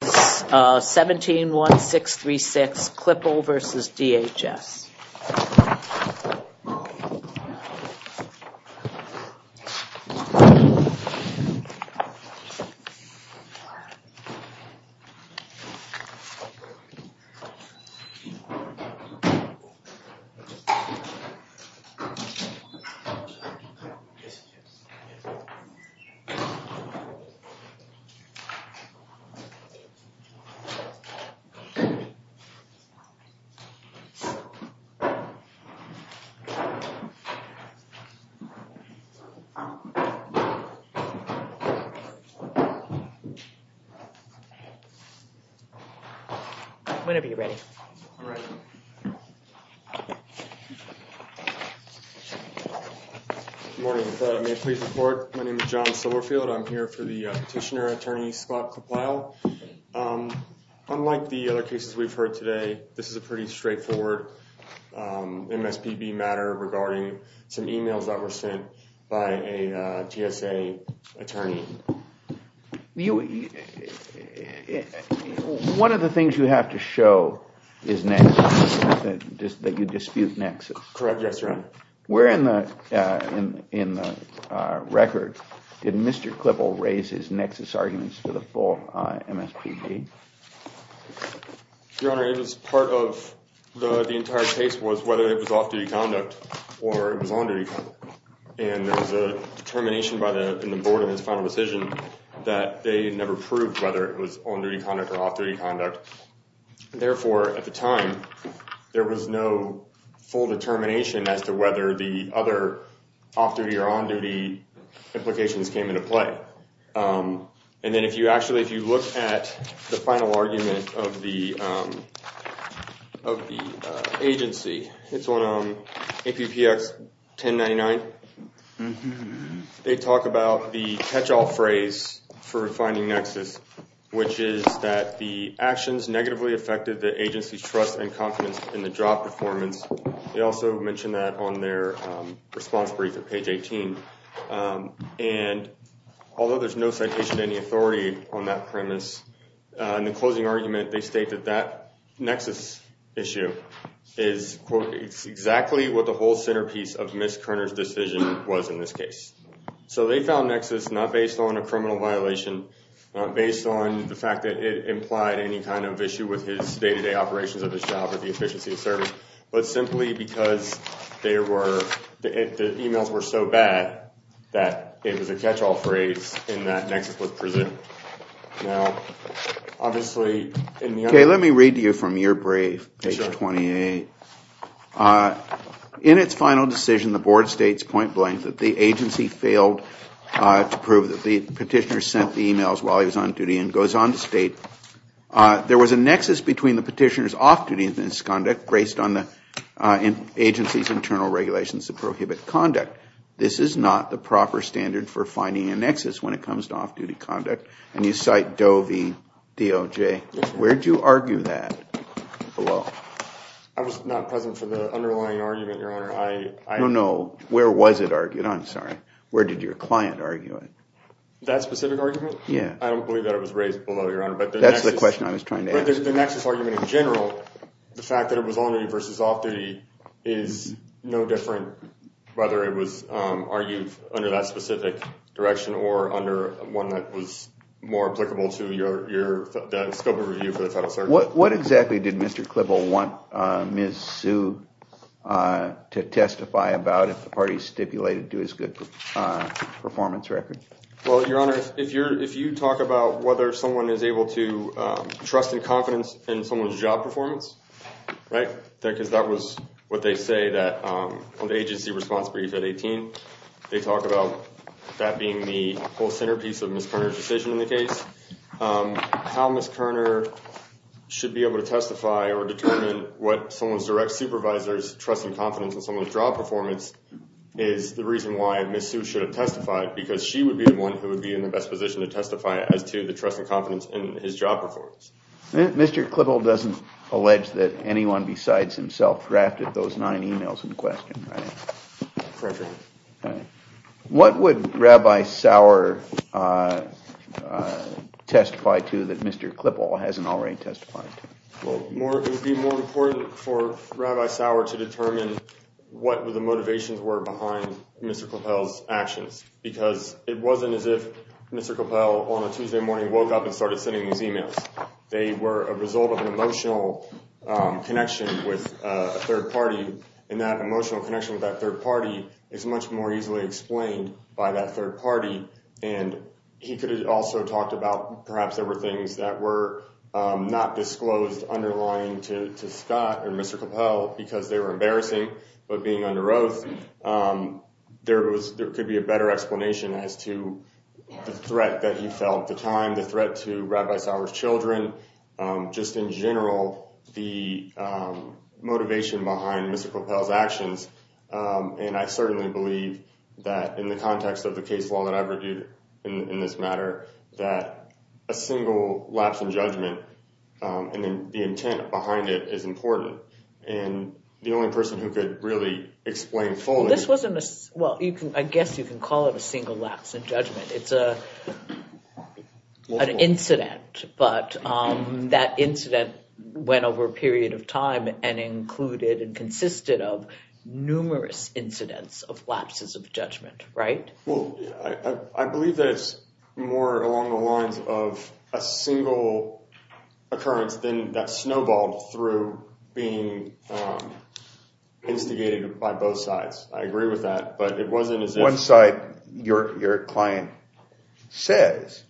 171636 Clipple versus DHS. 171636 Clipple versus DHS. Unlike the other cases we've heard today, this is a pretty straightforward MSPB matter regarding some emails that were sent by a GSA attorney. One of the things you have to show is nexus, that you dispute nexus. Correct, yes, Your Honor. Where in the record did Mr. Clipple raise his nexus arguments for the full MSPB? Your Honor, it was part of the entire case was whether it was off-duty conduct or it was on-duty conduct. There was a determination in the board in his final decision that they never proved whether it was on-duty conduct or off-duty conduct. Therefore, at the time, there was no full determination as to whether the other off-duty or on-duty implications came into play. If you look at the final argument of the agency, it's on APPX 1099. They talk about the catch-all phrase for finding nexus, which is that the actions negatively affected the agency's trust and confidence in the job performance. They also mention that on their response brief at page 18. Although there's no citation of any authority on that premise, in the closing argument, they state that that nexus issue is exactly what the whole centerpiece of Ms. Koerner's decision was in this case. They found nexus not based on a criminal violation, not based on the fact that it implied any kind of issue with his day-to-day operations of his job or the efficiency of service, but simply because the emails were so bad that it was a catch-all phrase and that nexus was presented. Okay, let me read to you from your brief, page 28. In its final decision, the board states point-blank that the agency failed to prove that the petitioner sent the emails while he was on duty and goes on to state, There was a nexus between the petitioner's off-duty misconduct based on the agency's internal regulations that prohibit conduct. This is not the proper standard for finding a nexus when it comes to off-duty conduct. And you cite Doe v. DOJ. Where do you argue that? Below. I was not present for the underlying argument, Your Honor. No, no, where was it argued? I'm sorry. Where did your client argue it? That specific argument? Yeah. I don't believe that it was raised below, Your Honor. That's the question I was trying to ask. The nexus argument in general, the fact that it was on-duty versus off-duty, is no different whether it was argued under that specific direction or under one that was more applicable to the scope of review for the Federal Circuit. What exactly did Mr. Klippel want Ms. Sue to testify about if the parties stipulated to his good performance record? Well, Your Honor, if you talk about whether someone is able to trust in confidence in someone's job performance, right, because that was what they say on the agency response brief at 18. They talk about that being the whole centerpiece of Ms. Kerner's decision in the case. How Ms. Kerner should be able to testify or determine what someone's direct supervisor's trust and confidence in someone's job performance is the reason why Ms. Sue should have testified, because she would be the one who would be in the best position to testify as to the trust and confidence in his job performance. Mr. Klippel doesn't allege that anyone besides himself drafted those nine emails in question, right? Correct, Your Honor. What would Rabbi Sauer testify to that Mr. Klippel hasn't already testified to? Well, it would be more important for Rabbi Sauer to determine what the motivations were behind Mr. Klippel's actions, because it wasn't as if Mr. Klippel on a Tuesday morning woke up and started sending these emails. They were a result of an emotional connection with a third party, and that emotional connection with that third party is much more easily explained by that third party. He could have also talked about perhaps there were things that were not disclosed underlying to Scott or Mr. Klippel because they were embarrassing, but being under oath, there could be a better explanation as to the threat that he felt at the time, the threat to Rabbi Sauer's children, just in general, the motivation behind Mr. Klippel's actions. And I certainly believe that in the context of the case law that I've reviewed in this matter, that a single lapse in judgment and the intent behind it is important. Well, I guess you can call it a single lapse in judgment. It's an incident, but that incident went over a period of time and included and consisted of numerous incidents of lapses of judgment, right? Well, I believe that it's more along the lines of a single occurrence that snowballed through being instigated by both sides. I agree with that, but it wasn't as if— One side, your client says,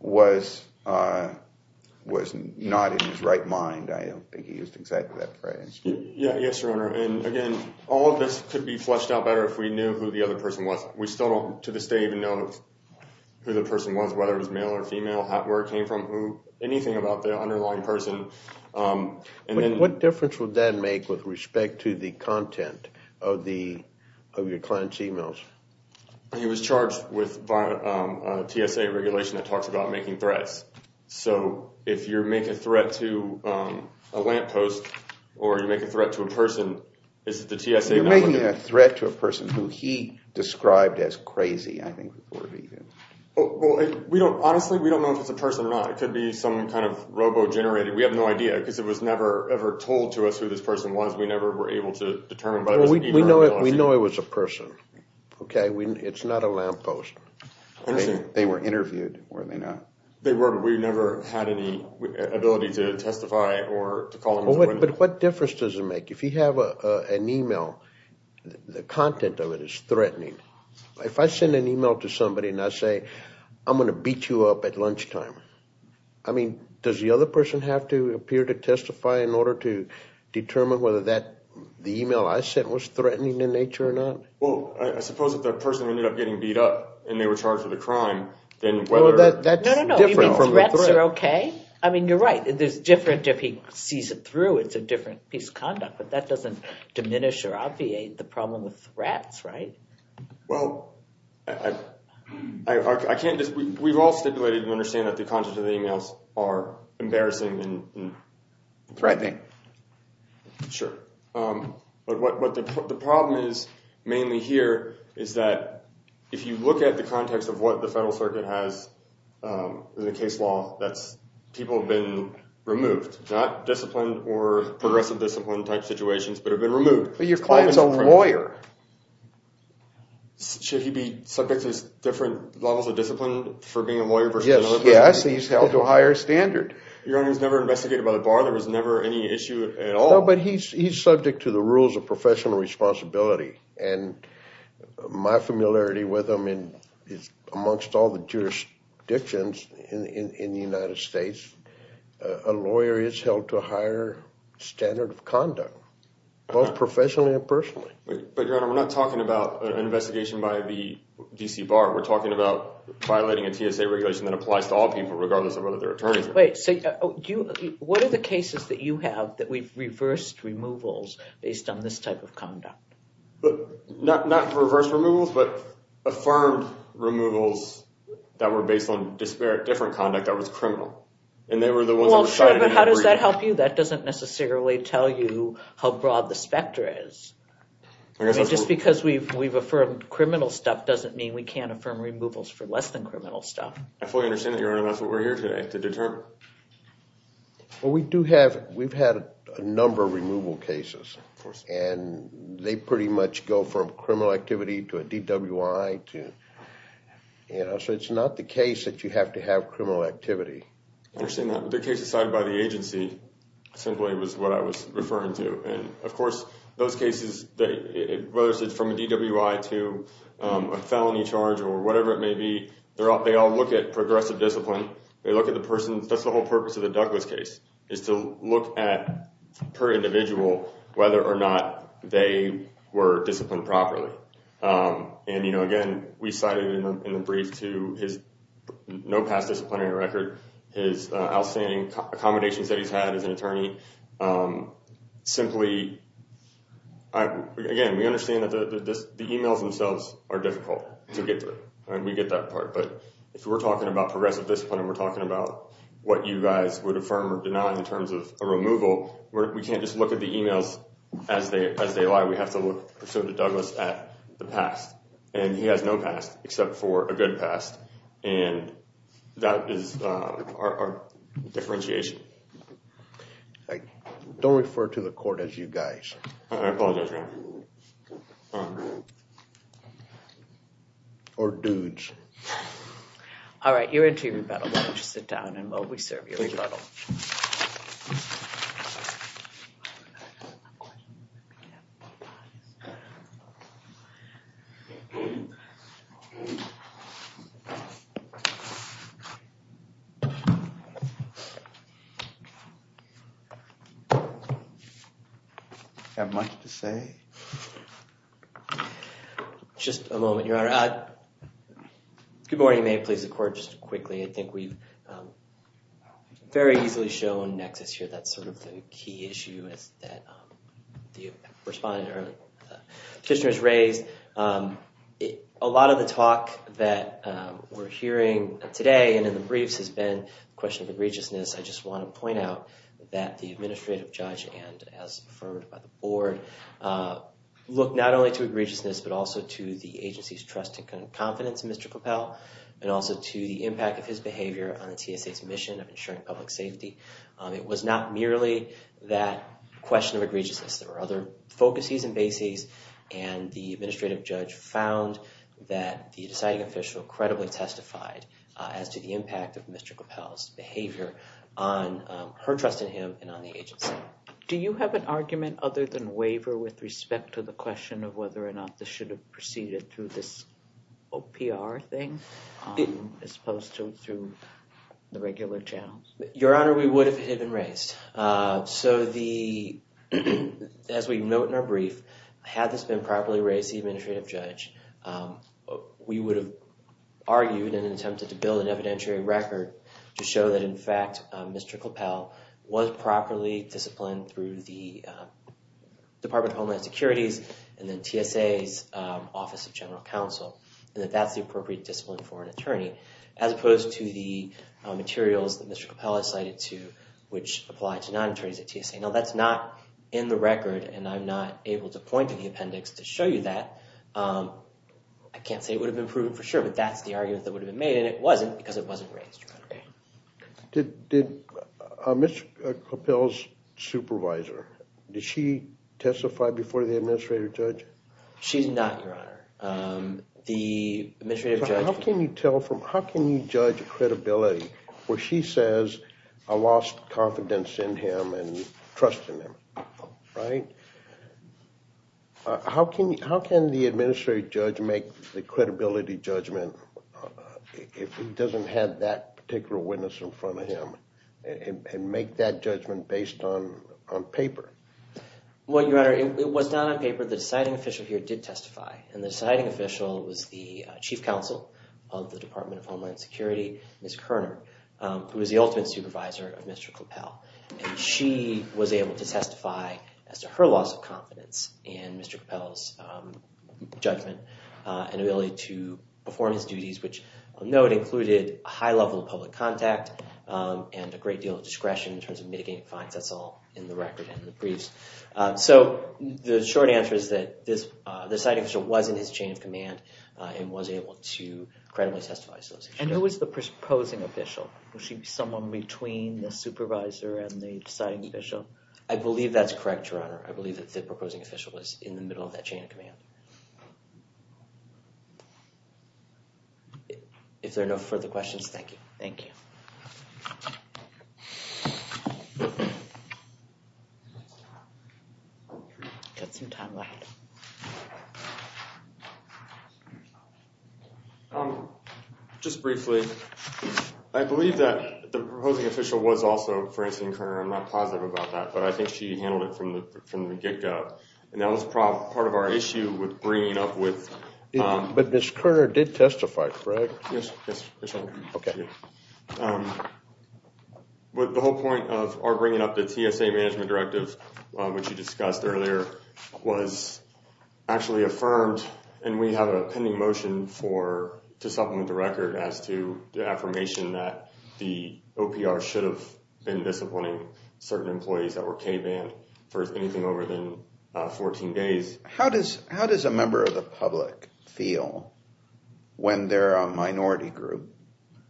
was not in his right mind. I don't think he used exactly that phrase. Yes, Your Honor, and again, all of this could be fleshed out better if we knew who the other person was. We still don't, to this day, even know who the person was, whether it was male or female, where it came from, anything about the underlying person. What difference would that make with respect to the content of your client's emails? He was charged with a TSA regulation that talks about making threats, so if you make a threat to a lamppost or you make a threat to a person, is it the TSA— You're making a threat to a person who he described as crazy, I think would be his— Well, honestly, we don't know if it's a person or not. It could be some kind of robo-generated—we have no idea because it was never ever told to us who this person was. We never were able to determine— We know it was a person, okay? It's not a lamppost. They were interviewed, were they not? They were, but we never had any ability to testify or to call them— But what difference does it make? If you have an email, the content of it is threatening. If I send an email to somebody and I say, I'm going to beat you up at lunchtime, does the other person have to appear to testify in order to determine whether the email I sent was threatening in nature or not? Well, I suppose if that person ended up getting beat up and they were charged with a crime, then whether— No, no, no. You mean threats are okay? I mean, you're right. There's different—if he sees it through, it's a different piece of conduct, but that doesn't diminish or obviate the problem with threats, right? Well, I can't just—we've all stipulated and understand that the content of the emails are embarrassing and— Threatening. Sure. But what the problem is, mainly here, is that if you look at the context of what the Federal Circuit has in the case law, that's—people have been removed, not disciplined or progressive discipline type situations, but have been removed. But your client's a lawyer. Should he be subject to different levels of discipline for being a lawyer versus another person? Yes, he's held to a higher standard. Your Honor, he's never investigated by the bar? There was never any issue at all? No, but he's subject to the rules of professional responsibility, and my familiarity with him is, amongst all the jurisdictions in the United States, a lawyer is held to a higher standard of conduct, both professionally and personally. But, Your Honor, we're not talking about an investigation by the D.C. Bar. We're talking about violating a TSA regulation that applies to all people, regardless of whether they're attorneys or not. Wait, so what are the cases that you have that we've reversed removals based on this type of conduct? Not reversed removals, but affirmed removals that were based on different conduct that was criminal. And they were the ones that were cited— Well, sure, but how does that help you? That doesn't necessarily tell you how broad the specter is. I mean, just because we've affirmed criminal stuff doesn't mean we can't affirm removals for less than criminal stuff. I fully understand that, Your Honor. That's what we're here today, to determine. Well, we do have—we've had a number of removal cases. Of course. And they pretty much go from criminal activity to a DWI to—you know, so it's not the case that you have to have criminal activity. I understand that. But the case decided by the agency simply was what I was referring to. And, of course, those cases, whether it's from a DWI to a felony charge or whatever it may be, they all look at progressive discipline. They look at the person—that's the whole purpose of the Douglas case, is to look at, per individual, whether or not they were disciplined properly. And, you know, again, we cited in the brief, too, his no past disciplinary record, his outstanding accommodations that he's had as an attorney. Simply, again, we understand that the emails themselves are difficult to get through. We get that part. But if we're talking about progressive discipline and we're talking about what you guys would affirm or deny in terms of a removal, we can't just look at the emails as they lie. We have to look, personally to Douglas, at the past. And he has no past except for a good past. And that is our differentiation. Don't refer to the court as you guys. I apologize, Your Honor. Or dudes. All right, you're into your rebuttal. Why don't you sit down and while we serve your rebuttal. Do you have much to say? Just a moment, Your Honor. Good morning. May it please the court, just quickly, I think we've very easily shown nexus here. That's sort of the key issue that the respondent or the petitioner has raised. A lot of the talk that we're hearing today and in the briefs has been a question of egregiousness. I just want to point out that the administrative judge and, as affirmed by the board, looked not only to egregiousness but also to the agency's trust and confidence in Mr. Coppell and also to the impact of his behavior on the TSA's mission of ensuring public safety. It was not merely that question of egregiousness. There were other focuses and bases. And the administrative judge found that the deciding official credibly testified as to the impact of Mr. Coppell's behavior on her trust in him and on the agency. Do you have an argument other than waiver with respect to the question of whether or not this should have proceeded through this OPR thing as opposed to through the regular channels? Your Honor, we would if it had been raised. So, as we note in our brief, had this been properly raised to the administrative judge, we would have argued and attempted to build an evidentiary record to show that, in fact, Mr. Coppell was properly disciplined through the Department of Homeland Security's and then TSA's Office of General Counsel and that that's the appropriate discipline for an attorney as opposed to the materials that Mr. Coppell has cited to which apply to non-attorneys at TSA. Now, that's not in the record and I'm not able to point to the appendix to show you that. I can't say it would have been proven for sure, but that's the argument that would have been made and it wasn't because it wasn't raised, Your Honor. Did Ms. Coppell's supervisor, did she testify before the administrative judge? She did not, Your Honor. How can you judge credibility where she says I lost confidence in him and trust in him, right? How can the administrative judge make the credibility judgment if he doesn't have that particular witness in front of him and make that judgment based on paper? Well, Your Honor, it was done on paper. However, the deciding official here did testify and the deciding official was the Chief Counsel of the Department of Homeland Security, Ms. Kerner, who was the ultimate supervisor of Mr. Coppell. She was able to testify as to her loss of confidence in Mr. Coppell's judgment and ability to perform his duties, which I'll note included a high level of public contact and a great deal of discretion in terms of mitigating fines. That's all in the record and the briefs. So the short answer is that the deciding official was in his chain of command and was able to credibly testify. And who was the proposing official? Was she someone between the supervisor and the deciding official? I believe that's correct, Your Honor. I believe that the proposing official was in the middle of that chain of command. If there are no further questions, thank you. Thank you. Got some time left. Just briefly, I believe that the proposing official was also Francine Kerner. I'm not positive about that, but I think she handled it from the get-go. And that was part of our issue with bringing up with— But Ms. Kerner did testify, correct? Yes, Your Honor. Okay. The whole point of our bringing up the TSA Management Directive, which you discussed earlier, was actually affirmed, and we have a pending motion to supplement the record as to the affirmation that the OPR should have been disciplining certain employees that were K-banned for anything over than 14 days. How does a member of the public feel when they're a minority group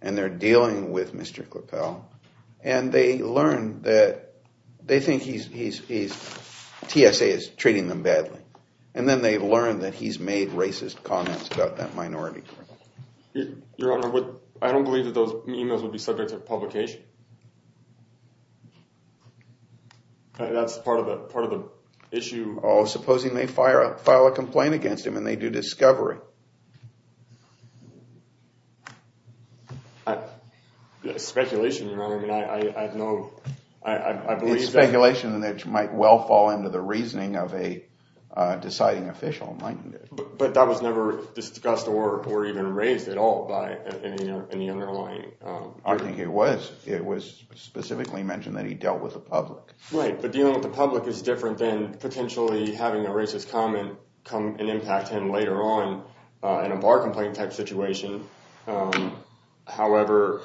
and they're dealing with Mr. Kleppel, and they learn that they think he's—TSA is treating them badly, and then they learn that he's made racist comments about that minority group? Your Honor, I don't believe that those emails would be subject to publication. That's part of the issue. Oh, supposing they file a complaint against him and they do discovery. It's speculation, Your Honor. I have no—I believe that— It's speculation that might well fall into the reasoning of a deciding official. But that was never discussed or even raised at all by any underlying— I think it was. It was specifically mentioned that he dealt with the public. Right. But dealing with the public is different than potentially having a racist comment come and impact him later on in a bar complaint type situation. However,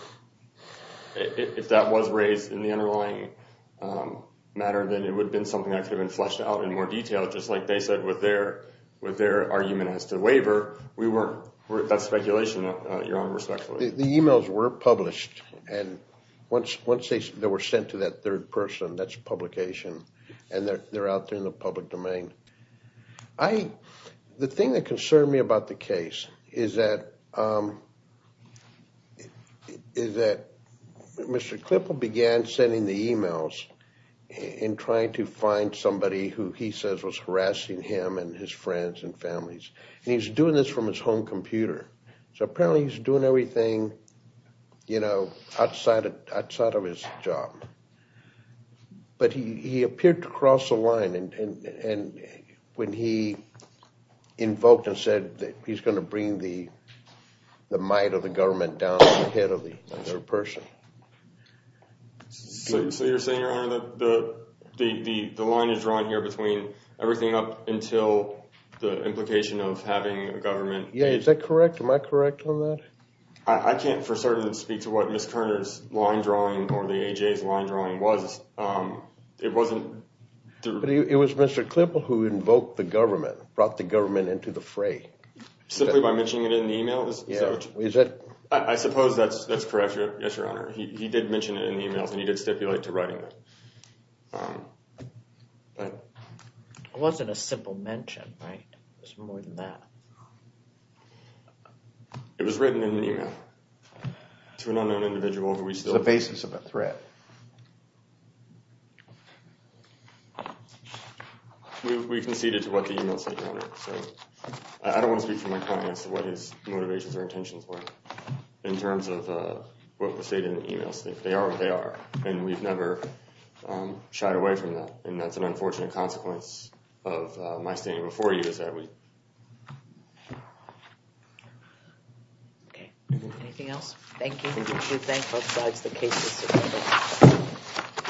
if that was raised in the underlying matter, then it would have been something that could have been fleshed out in more detail, just like they said with their argument as to waiver. We weren't—that's speculation, Your Honor, respectfully. The emails were published, and once they were sent to that third person, that's publication, and they're out there in the public domain. The thing that concerned me about the case is that Mr. Klippel began sending the emails in trying to find somebody who he says was harassing him and his friends and families, and he was doing this from his home computer. So apparently he was doing everything, you know, outside of his job. But he appeared to cross the line when he invoked and said that he's going to bring the might of the government down on the head of the third person. So you're saying, Your Honor, that the line is drawn here between everything up until the implication of having a government— Yeah, is that correct? Am I correct on that? I can't for certain speak to what Ms. Kerner's line drawing or the A.J.'s line drawing was. It wasn't— But it was Mr. Klippel who invoked the government, brought the government into the fray. Simply by mentioning it in the emails? Yeah. I suppose that's correct, yes, Your Honor. He did mention it in the emails, and he did stipulate to writing them. It wasn't a simple mention, right? It was more than that. It was written in an email to an unknown individual who we still— On the basis of a threat. We conceded to what the email said, Your Honor. So I don't want to speak for my client as to what his motivations or intentions were in terms of what was stated in the emails. They are what they are, and we've never shied away from that. And that's an unfortunate consequence of my standing before you is that we— Okay. Anything else? Thank you. Thank you. We thank both sides. The case is submitted.